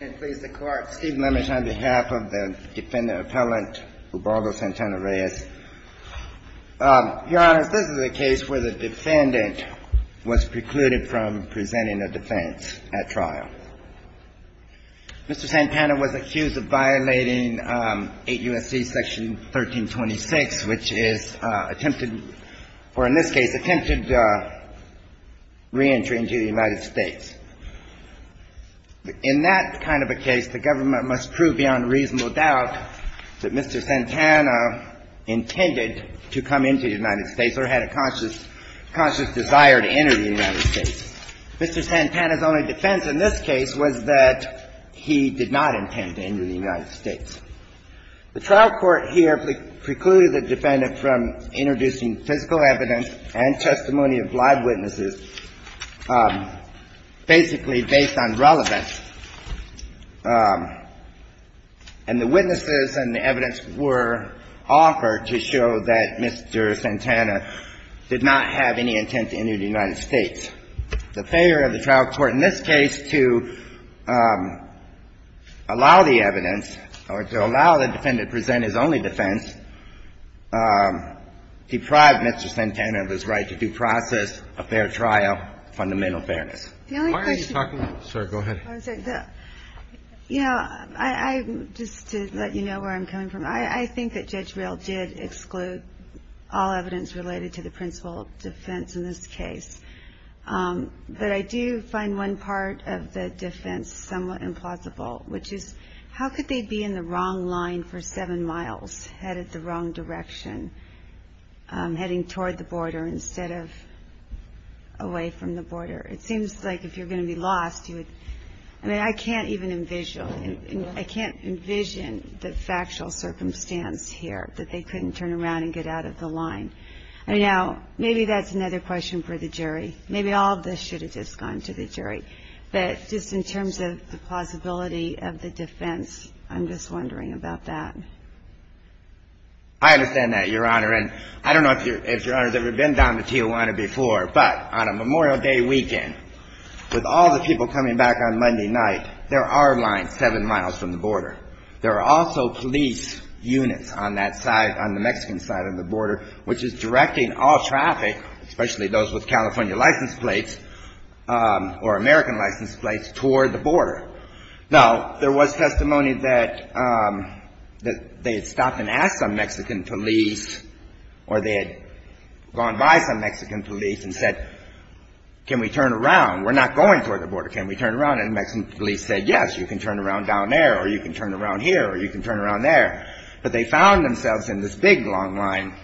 Your Honor, this is a case where the defendant was precluded from presenting a defense at trial. Mr. Santana was accused of violating 8 U.S.C. section 1326, which is attempted or, in this case, attempted reentry into the United States. In that kind of a case, the government must prove beyond reasonable doubt that Mr. Santana intended to come into the United States or had a conscious desire to enter the United States. Mr. Santana's only defense in this case was that he did not intend to enter the United States. The trial court here precluded the defendant from introducing physical evidence and testimony of live witnesses, basically based on relevance. And the witnesses and the evidence were offered to show that Mr. Santana did not have any intent to enter the United States. The failure of the trial court in this case to allow the evidence or to allow the defendant to present his only defense deprived Mr. Santana of his right to due process, a fair trial, fundamental fairness. The only question you're talking about – The only question – Sir, go ahead. I'm sorry. The – you know, I – just to let you know where I'm coming from, I think that Judge Rehl did exclude all evidence related to the principle of defense in this case. But I do find one part of the defense somewhat implausible, which is how could they be in the wrong line for seven miles, headed the wrong direction, heading toward the border instead of away from the border? It seems like if you're going to be lost, you would – I mean, I can't even envision – I can't envision the factual circumstance here, that they couldn't turn around and get out of the line. Now, maybe that's another question for the jury. Maybe all of this should have just I'm just wondering about that. I understand that, Your Honor. And I don't know if Your Honor has ever been down to Tijuana before, but on a Memorial Day weekend, with all the people coming back on Monday night, there are lines seven miles from the border. There are also police units on that side, on the Mexican side of the border, which is directing all traffic, especially those with California license plates or American license plates, toward the border. Now, there was testimony that they had stopped and asked some Mexican police, or they had gone by some Mexican police and said, can we turn around? We're not going toward the border. Can we turn around? And the Mexican police said, yes, you can turn around down there, or you can turn around here, or you can turn around there. But they found themselves in this big, long line.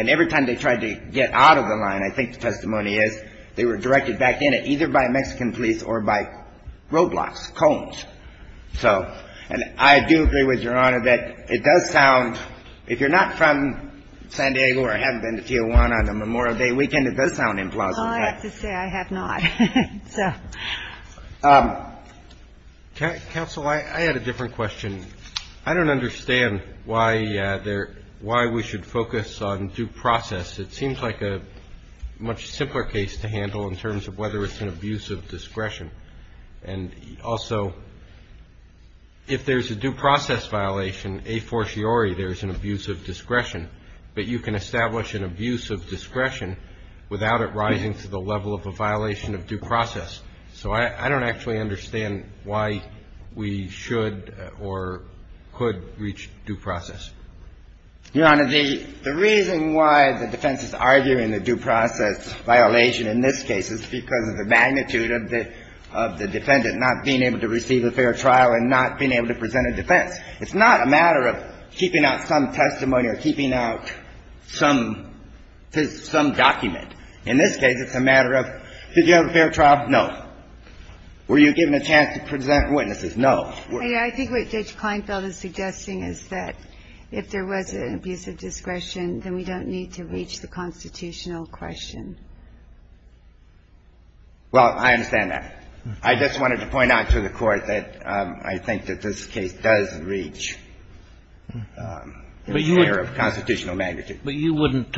And every time they tried to get out of the line, I think the testimony is, they were directed back in at either by Mexican police or by roadblocks, cones. So, and I do agree with Your Honor that it does sound, if you're not from San Diego or haven't been to Tijuana on a Memorial Day weekend, it does sound implausible. Well, I have to say I have not. Counsel, I had a different question. I don't understand why we should focus on due process. It seems like a much simpler case to handle in terms of whether it's an abuse of discretion. And also, if there's a due process violation, a fortiori, there's an abuse of discretion. But you can establish an abuse of discretion without it rising to the level of a violation of due process. So I don't actually understand why we should or could reach due process. Your Honor, the reason why the defense is arguing the due process violation in this case is because of the magnitude of the defendant not being able to receive a fair trial and not being able to present a defense. It's not a matter of keeping out some testimony or keeping out some document. In this case, it's a matter of, did you have a fair trial? No. Were you given a chance to present witnesses? No. And I think what Judge Kleinfeld is suggesting is that if there was an abuse of discretion, then we don't need to reach the constitutional question. Well, I understand that. I just wanted to point out to the Court that I think that this case does reach a fair of constitutional magnitude. But you wouldn't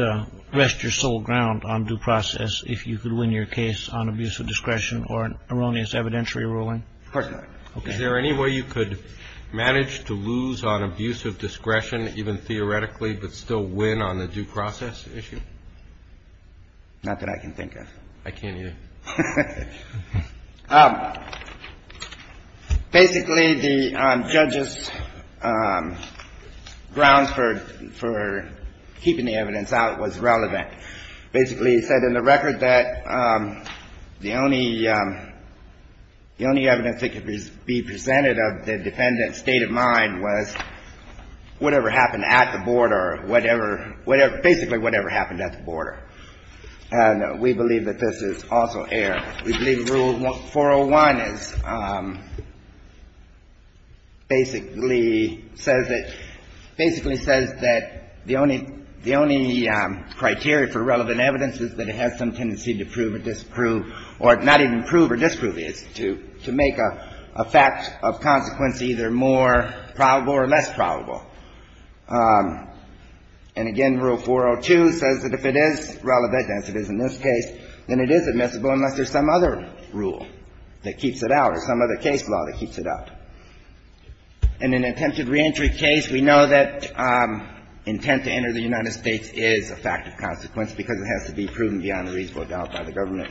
rest your sole ground on due process if you could win your case on abuse of discretion or an erroneous evidentiary ruling? Of course not. Is there any way you could manage to lose on abuse of discretion even theoretically but still win on the due process issue? Not that I can think of. I can't either. Basically, the judge's grounds for keeping the evidence out was relevant. Basically, he said in the record that the only evidence that could be presented of the defendant's state of mind was whatever happened at the border, whatever – basically whatever happened at the border. And we believe that this is also air. We believe Rule 401 is – basically says that – basically says that the only criteria for relevant evidence is that it has some tendency to prove or disprove or not even prove or disprove it. It's to make a fact of consequence either more probable or less probable. And again, Rule 402 says that if it is relevant, as it is in this case, then it is admissible unless there's some other rule that keeps it out or some other case law that keeps it out. In an attempted reentry case, we know that intent to enter the United States is a fact of consequence because it has to be proven beyond a reasonable doubt by the government.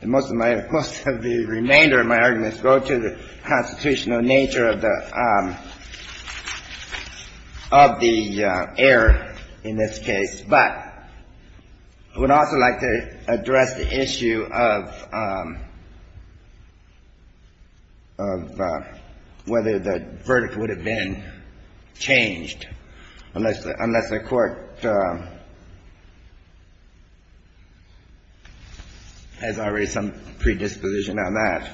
And most of my – most of the remainder of my arguments go to the constitutional nature of the error in this case. But I would also like to address the issue of whether the verdict would have been changed unless the Court has already some predisposition on that.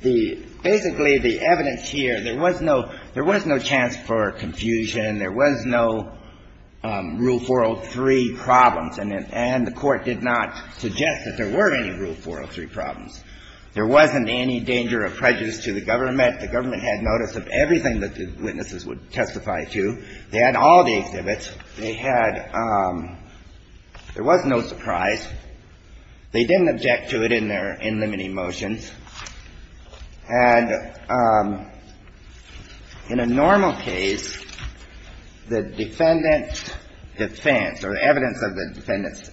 The – basically, the evidence here, there was no – there was no chance for confusion. There was no Rule 403 problems, and the Court did not suggest that there were any Rule 403 problems. There wasn't any danger of prejudice to the government. The government had notice of everything that the witnesses would testify to. They had all the exhibits. They had – there was no surprise. They didn't object to it in their – in limiting motions. And in a normal case, the defendant's defense or evidence of the defendant's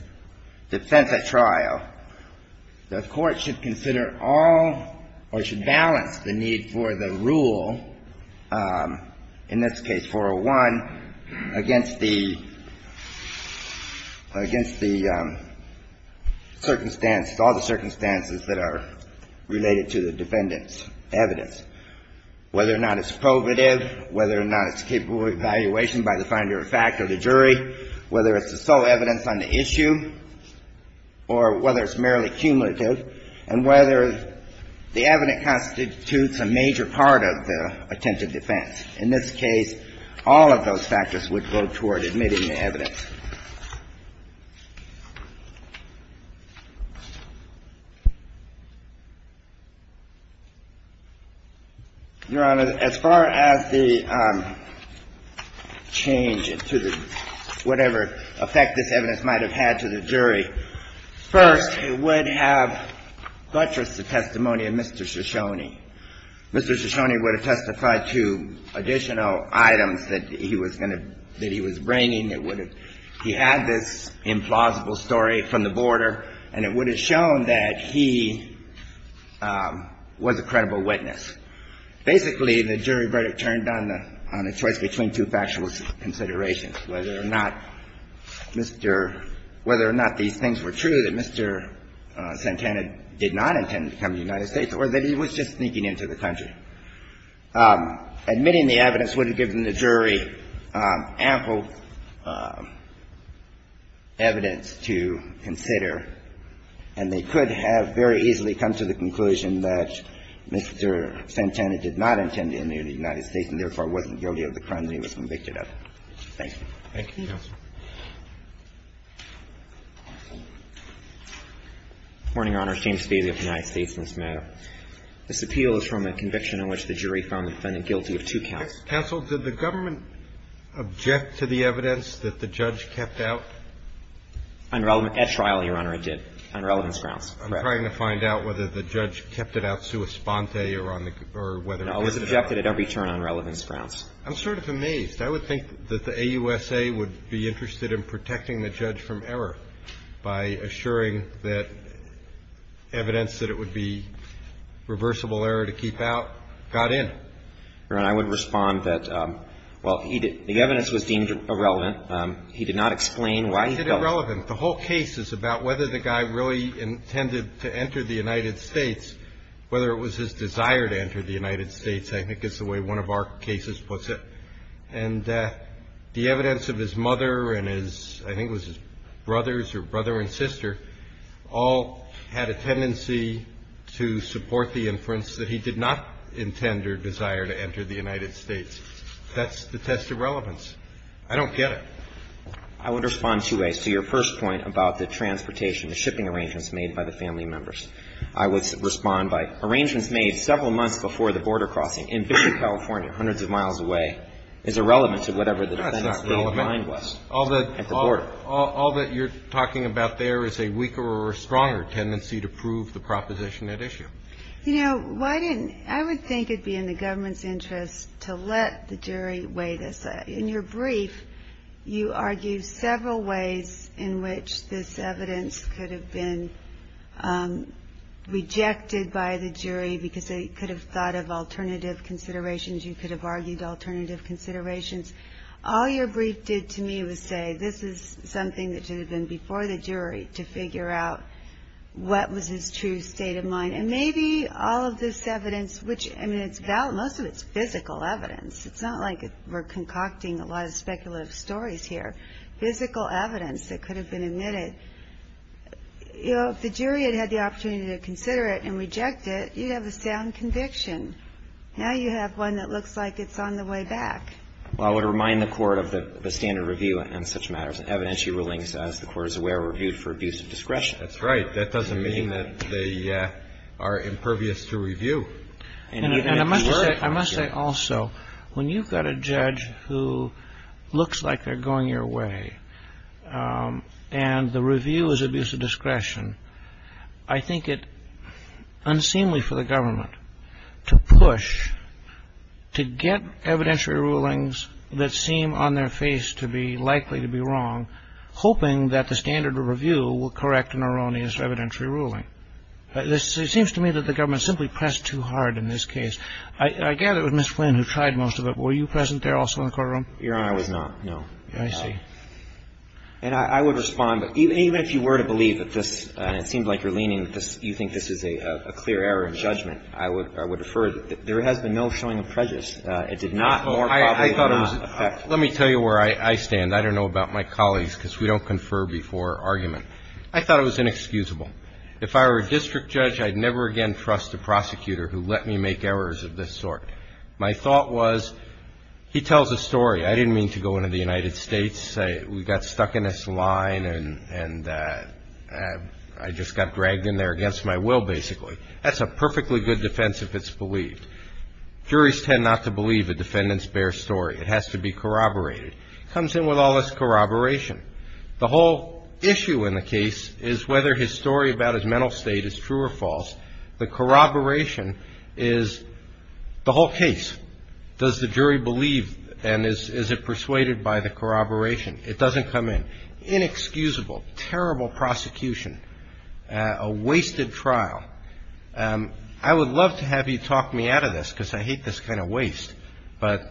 defense at trial, the Court should consider all or should balance the need for the circumstances, all the circumstances that are related to the defendant's evidence, whether or not it's probative, whether or not it's capable of evaluation by the finder of fact or the jury, whether it's the sole evidence on the issue, or whether it's merely cumulative, and whether the evidence constitutes a major part of the attempted defense. In this case, all of those factors would go toward admitting the evidence. Your Honor, as far as the change to the – whatever effect this evidence might have had to the jury, first, it would have buttressed the testimony of Mr. Shoshone. Mr. Shoshone would have testified to additional items that he was going to – that he was bringing. It would have – he had this implausible story from the border, and it would have shown that he was a credible witness. Basically, the jury verdict turned on the choice between two factual considerations, whether or not Mr. – whether or not these things were true, that Mr. Santana did not intend to come to the United States, or that he was just sneaking into the country. Admitting the evidence would have given the jury ample evidence to consider, and they could have very easily come to the conclusion that Mr. Santana did not intend to enter the United States and, therefore, wasn't guilty of the crimes he was convicted of. Thank you. Thank you, counsel. Morning, Your Honor. James Spazio of the United States in this matter. This appeal is from a conviction in which the jury found the defendant guilty of two counts. Counsel, did the government object to the evidence that the judge kept out? At trial, Your Honor, it did, on relevance grounds. Correct. I'm trying to find out whether the judge kept it out sua sponte or on the – or whether it did or not. No, it was objected at every turn on relevance grounds. I'm sort of amazed. I would think that the AUSA would be interested in protecting the judge from error by assuring that evidence that it would be reversible error to keep out got in. Your Honor, I would respond that, well, he did – the evidence was deemed irrelevant. He did not explain why he felt that. It's irrelevant. The whole case is about whether the guy really intended to enter the United States, whether it was his desire to enter the United States. I think it's the way one of our cases puts it. And the evidence of his mother and his – I think it was his brothers or brother and sister all had a tendency to support the inference that he did not intend or desire to enter the United States. That's the test of relevance. I don't get it. I would respond two ways to your first point about the transportation, the shipping arrangements made by the family members. I would respond by arrangements made several months before the border crossing in Bishop, California, hundreds of miles away is irrelevant to whatever the defendant's claim to mind was at the border. That's not relevant. All that you're talking about there is a weaker or stronger tendency to prove the proposition at issue. You know, why didn't – I would think it would be in the government's interest to let the jury weigh this. In your brief, you argue several ways in which this evidence could have been rejected by the jury because they could have thought of alternative considerations. You could have argued alternative considerations. All your brief did to me was say this is something that should have been before the jury to figure out what was his true state of mind. And maybe all of this evidence, which, I mean, it's – most of it's physical evidence. It's not like we're concocting a lot of speculative stories here. Physical evidence that could have been admitted. You know, if the jury had had the opportunity to consider it and reject it, you'd have a sound conviction. Now you have one that looks like it's on the way back. Well, I would remind the Court of the standard review on such matters. Evidentiary rulings, as the Court is aware, are reviewed for abuse of discretion. That's right. That doesn't mean that they are impervious to review. And I must say also, when you've got a judge who looks like they're going your way and the review is abuse of discretion, I think it's unseemly for the government to push to get evidentiary rulings that seem on their face to be likely to be wrong, hoping that the standard review will correct an erroneous evidentiary ruling. It seems to me that the government simply pressed too hard in this case. I gather it was Ms. Flynn who tried most of it. Were you present there also in the courtroom? Your Honor, I was not, no. I see. And I would respond. Even if you were to believe that this – and it seems like you're leaning – you think this is a clear error in judgment, I would defer. There has been no showing of prejudice. It did not – I thought it was – let me tell you where I stand. I don't know about my colleagues because we don't confer before argument. I thought it was inexcusable. If I were a district judge, I'd never again trust a prosecutor who let me make errors of this sort. My thought was he tells a story. I didn't mean to go into the United States. We got stuck in this line and I just got dragged in there against my will basically. That's a perfectly good defense if it's believed. Juries tend not to believe a defendant's bare story. It has to be corroborated. It comes in with all this corroboration. The whole issue in the case is whether his story about his mental state is true or false. The corroboration is the whole case. Does the jury believe and is it persuaded by the corroboration? It doesn't come in. Inexcusable. Terrible prosecution. A wasted trial. I would love to have you talk me out of this because I hate this kind of waste. But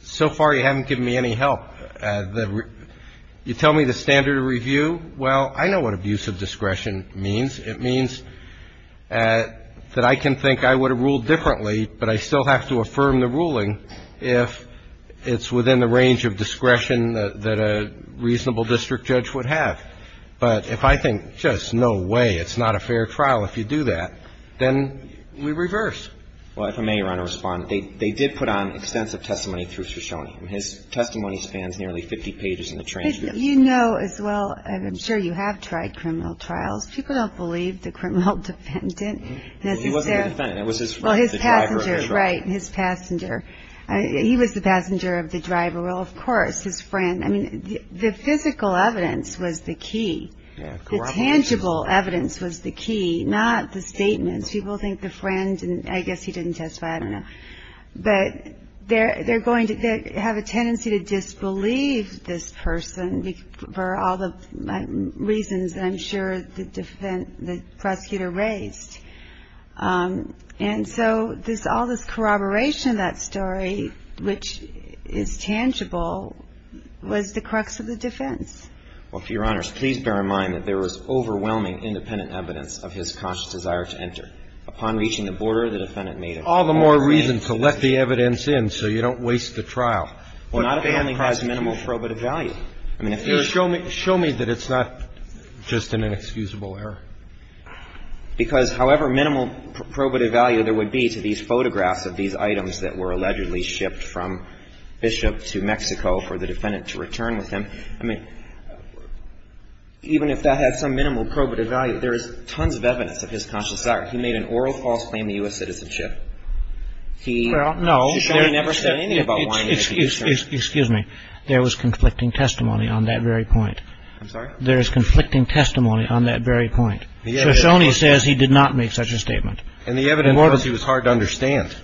so far you haven't given me any help. You tell me the standard of review. Well, I know what abuse of discretion means. It means that I can think I would have ruled differently, but I still have to affirm the ruling if it's within the range of discretion that a reasonable district judge would have. But if I think, just no way, it's not a fair trial if you do that, then we reverse. Well, if I may, Your Honor, respond. They did put on extensive testimony through Crescione. His testimony spans nearly 50 pages in the transcript. You know as well, I'm sure you have tried criminal trials. People don't believe the criminal defendant. He wasn't the defendant. That was his friend, the driver. Right, his passenger. He was the passenger of the driver. Well, of course, his friend. I mean, the physical evidence was the key. The tangible evidence was the key, not the statements. People think the friend, I guess he didn't testify, I don't know. But they're going to have a tendency to disbelieve this person for all the reasons that I'm sure the prosecutor raised. And so all this corroboration of that story, which is tangible, was the crux of the defense. Well, Your Honors, please bear in mind that there was overwhelming independent evidence of his conscious desire to enter. Upon reaching the border, the defendant made all the more reason to let the evidence in so you don't waste the trial. Well, not if it only has minimal probative value. Show me that it's not just an inexcusable error. Because however minimal probative value there would be to these photographs of these items that were allegedly shipped from Bishop to Mexico for the defendant to return with him, I mean, even if that had some minimal probative value, there is tons of evidence of his conscious desire. He made an oral false claim to U.S. citizenship. Well, no. Shoshone never said anything about lying. Excuse me. There was conflicting testimony on that very point. I'm sorry? There is conflicting testimony on that very point. Shoshone says he did not make such a statement. And the evidence was he was hard to understand.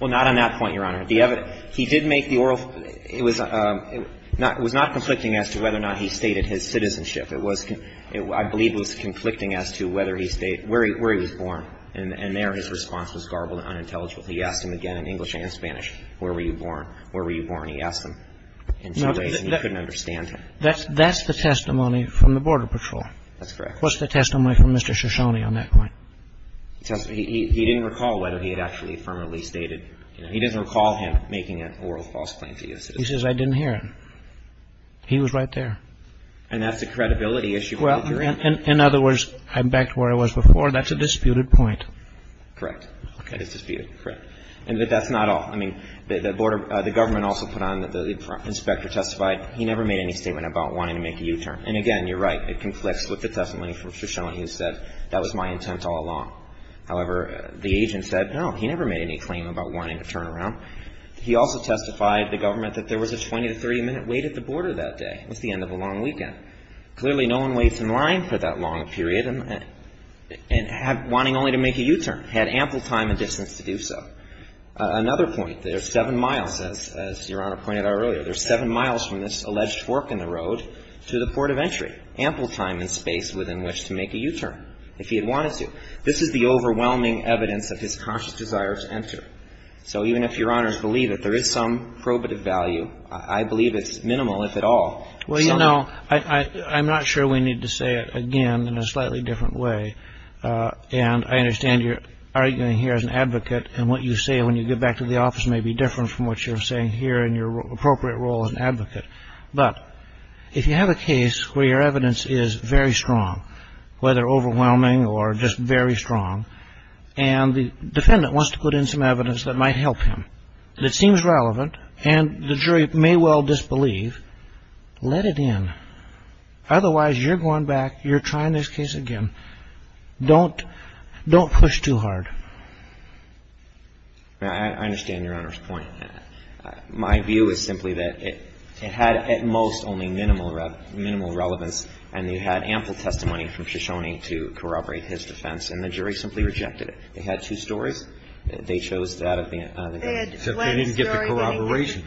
Well, not on that point, Your Honor. He did make the oral ‑‑ it was not conflicting as to whether or not he stated his citizenship. I believe it was conflicting as to whether he stated ‑‑ where he was born. And there his response was garbled and unintelligible. He asked him again in English and in Spanish, where were you born? Where were you born? He asked them in some ways and he couldn't understand him. That's the testimony from the Border Patrol. That's correct. What's the testimony from Mr. Shoshone on that point? He didn't recall whether he had actually affirmatively stated ‑‑ he doesn't recall him making an oral false claim to U.S. citizenship. He says, I didn't hear it. He was right there. And that's a credibility issue. Well, in other words, I'm back to where I was before. That's a disputed point. Correct. Okay. It's disputed. Correct. And that's not all. I mean, the border ‑‑ the government also put on ‑‑ the inspector testified he never made any statement about wanting to make a U-turn. And, again, you're right. It conflicts with the testimony from Mr. Shoshone. He said, that was my intent all along. However, the agent said, no, he never made any claim about wanting to turn around. He also testified, the government, that there was a 20- to 30-minute wait at the border that day. It was the end of a long weekend. Clearly, no one waits in line for that long a period and had ‑‑ wanting only to make a U-turn. Had ample time and distance to do so. Another point, there's seven miles, as Your Honor pointed out earlier. There's seven miles from this alleged fork in the road to the port of entry. Ample time and space within which to make a U-turn, if he had wanted to. This is the overwhelming evidence of his conscious desire to enter. So even if Your Honors believe that there is some probative value, I believe it's minimal, if at all. Well, you know, I'm not sure we need to say it again in a slightly different way. And I understand you're arguing here as an advocate. And what you say when you get back to the office may be different from what you're saying here in your appropriate role as an advocate. But if you have a case where your evidence is very strong, whether overwhelming or just very strong, and the defendant wants to put in some evidence that might help him, that seems relevant, and the jury may well disbelieve, let it in. Otherwise, you're going back, you're trying this case again. Don't push too hard. I understand Your Honor's point. My view is simply that it had at most only minimal relevance, and you had ample testimony from Ciccione to corroborate his defense. And the jury simply rejected it. They had two stories. They chose that. They didn't get the corroboration.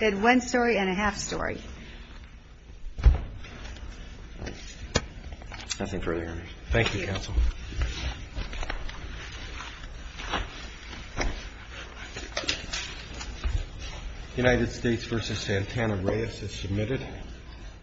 They had one story and a half story. Nothing further, Your Honors. Thank you, counsel. United States v. Santana-Reyes is submitted.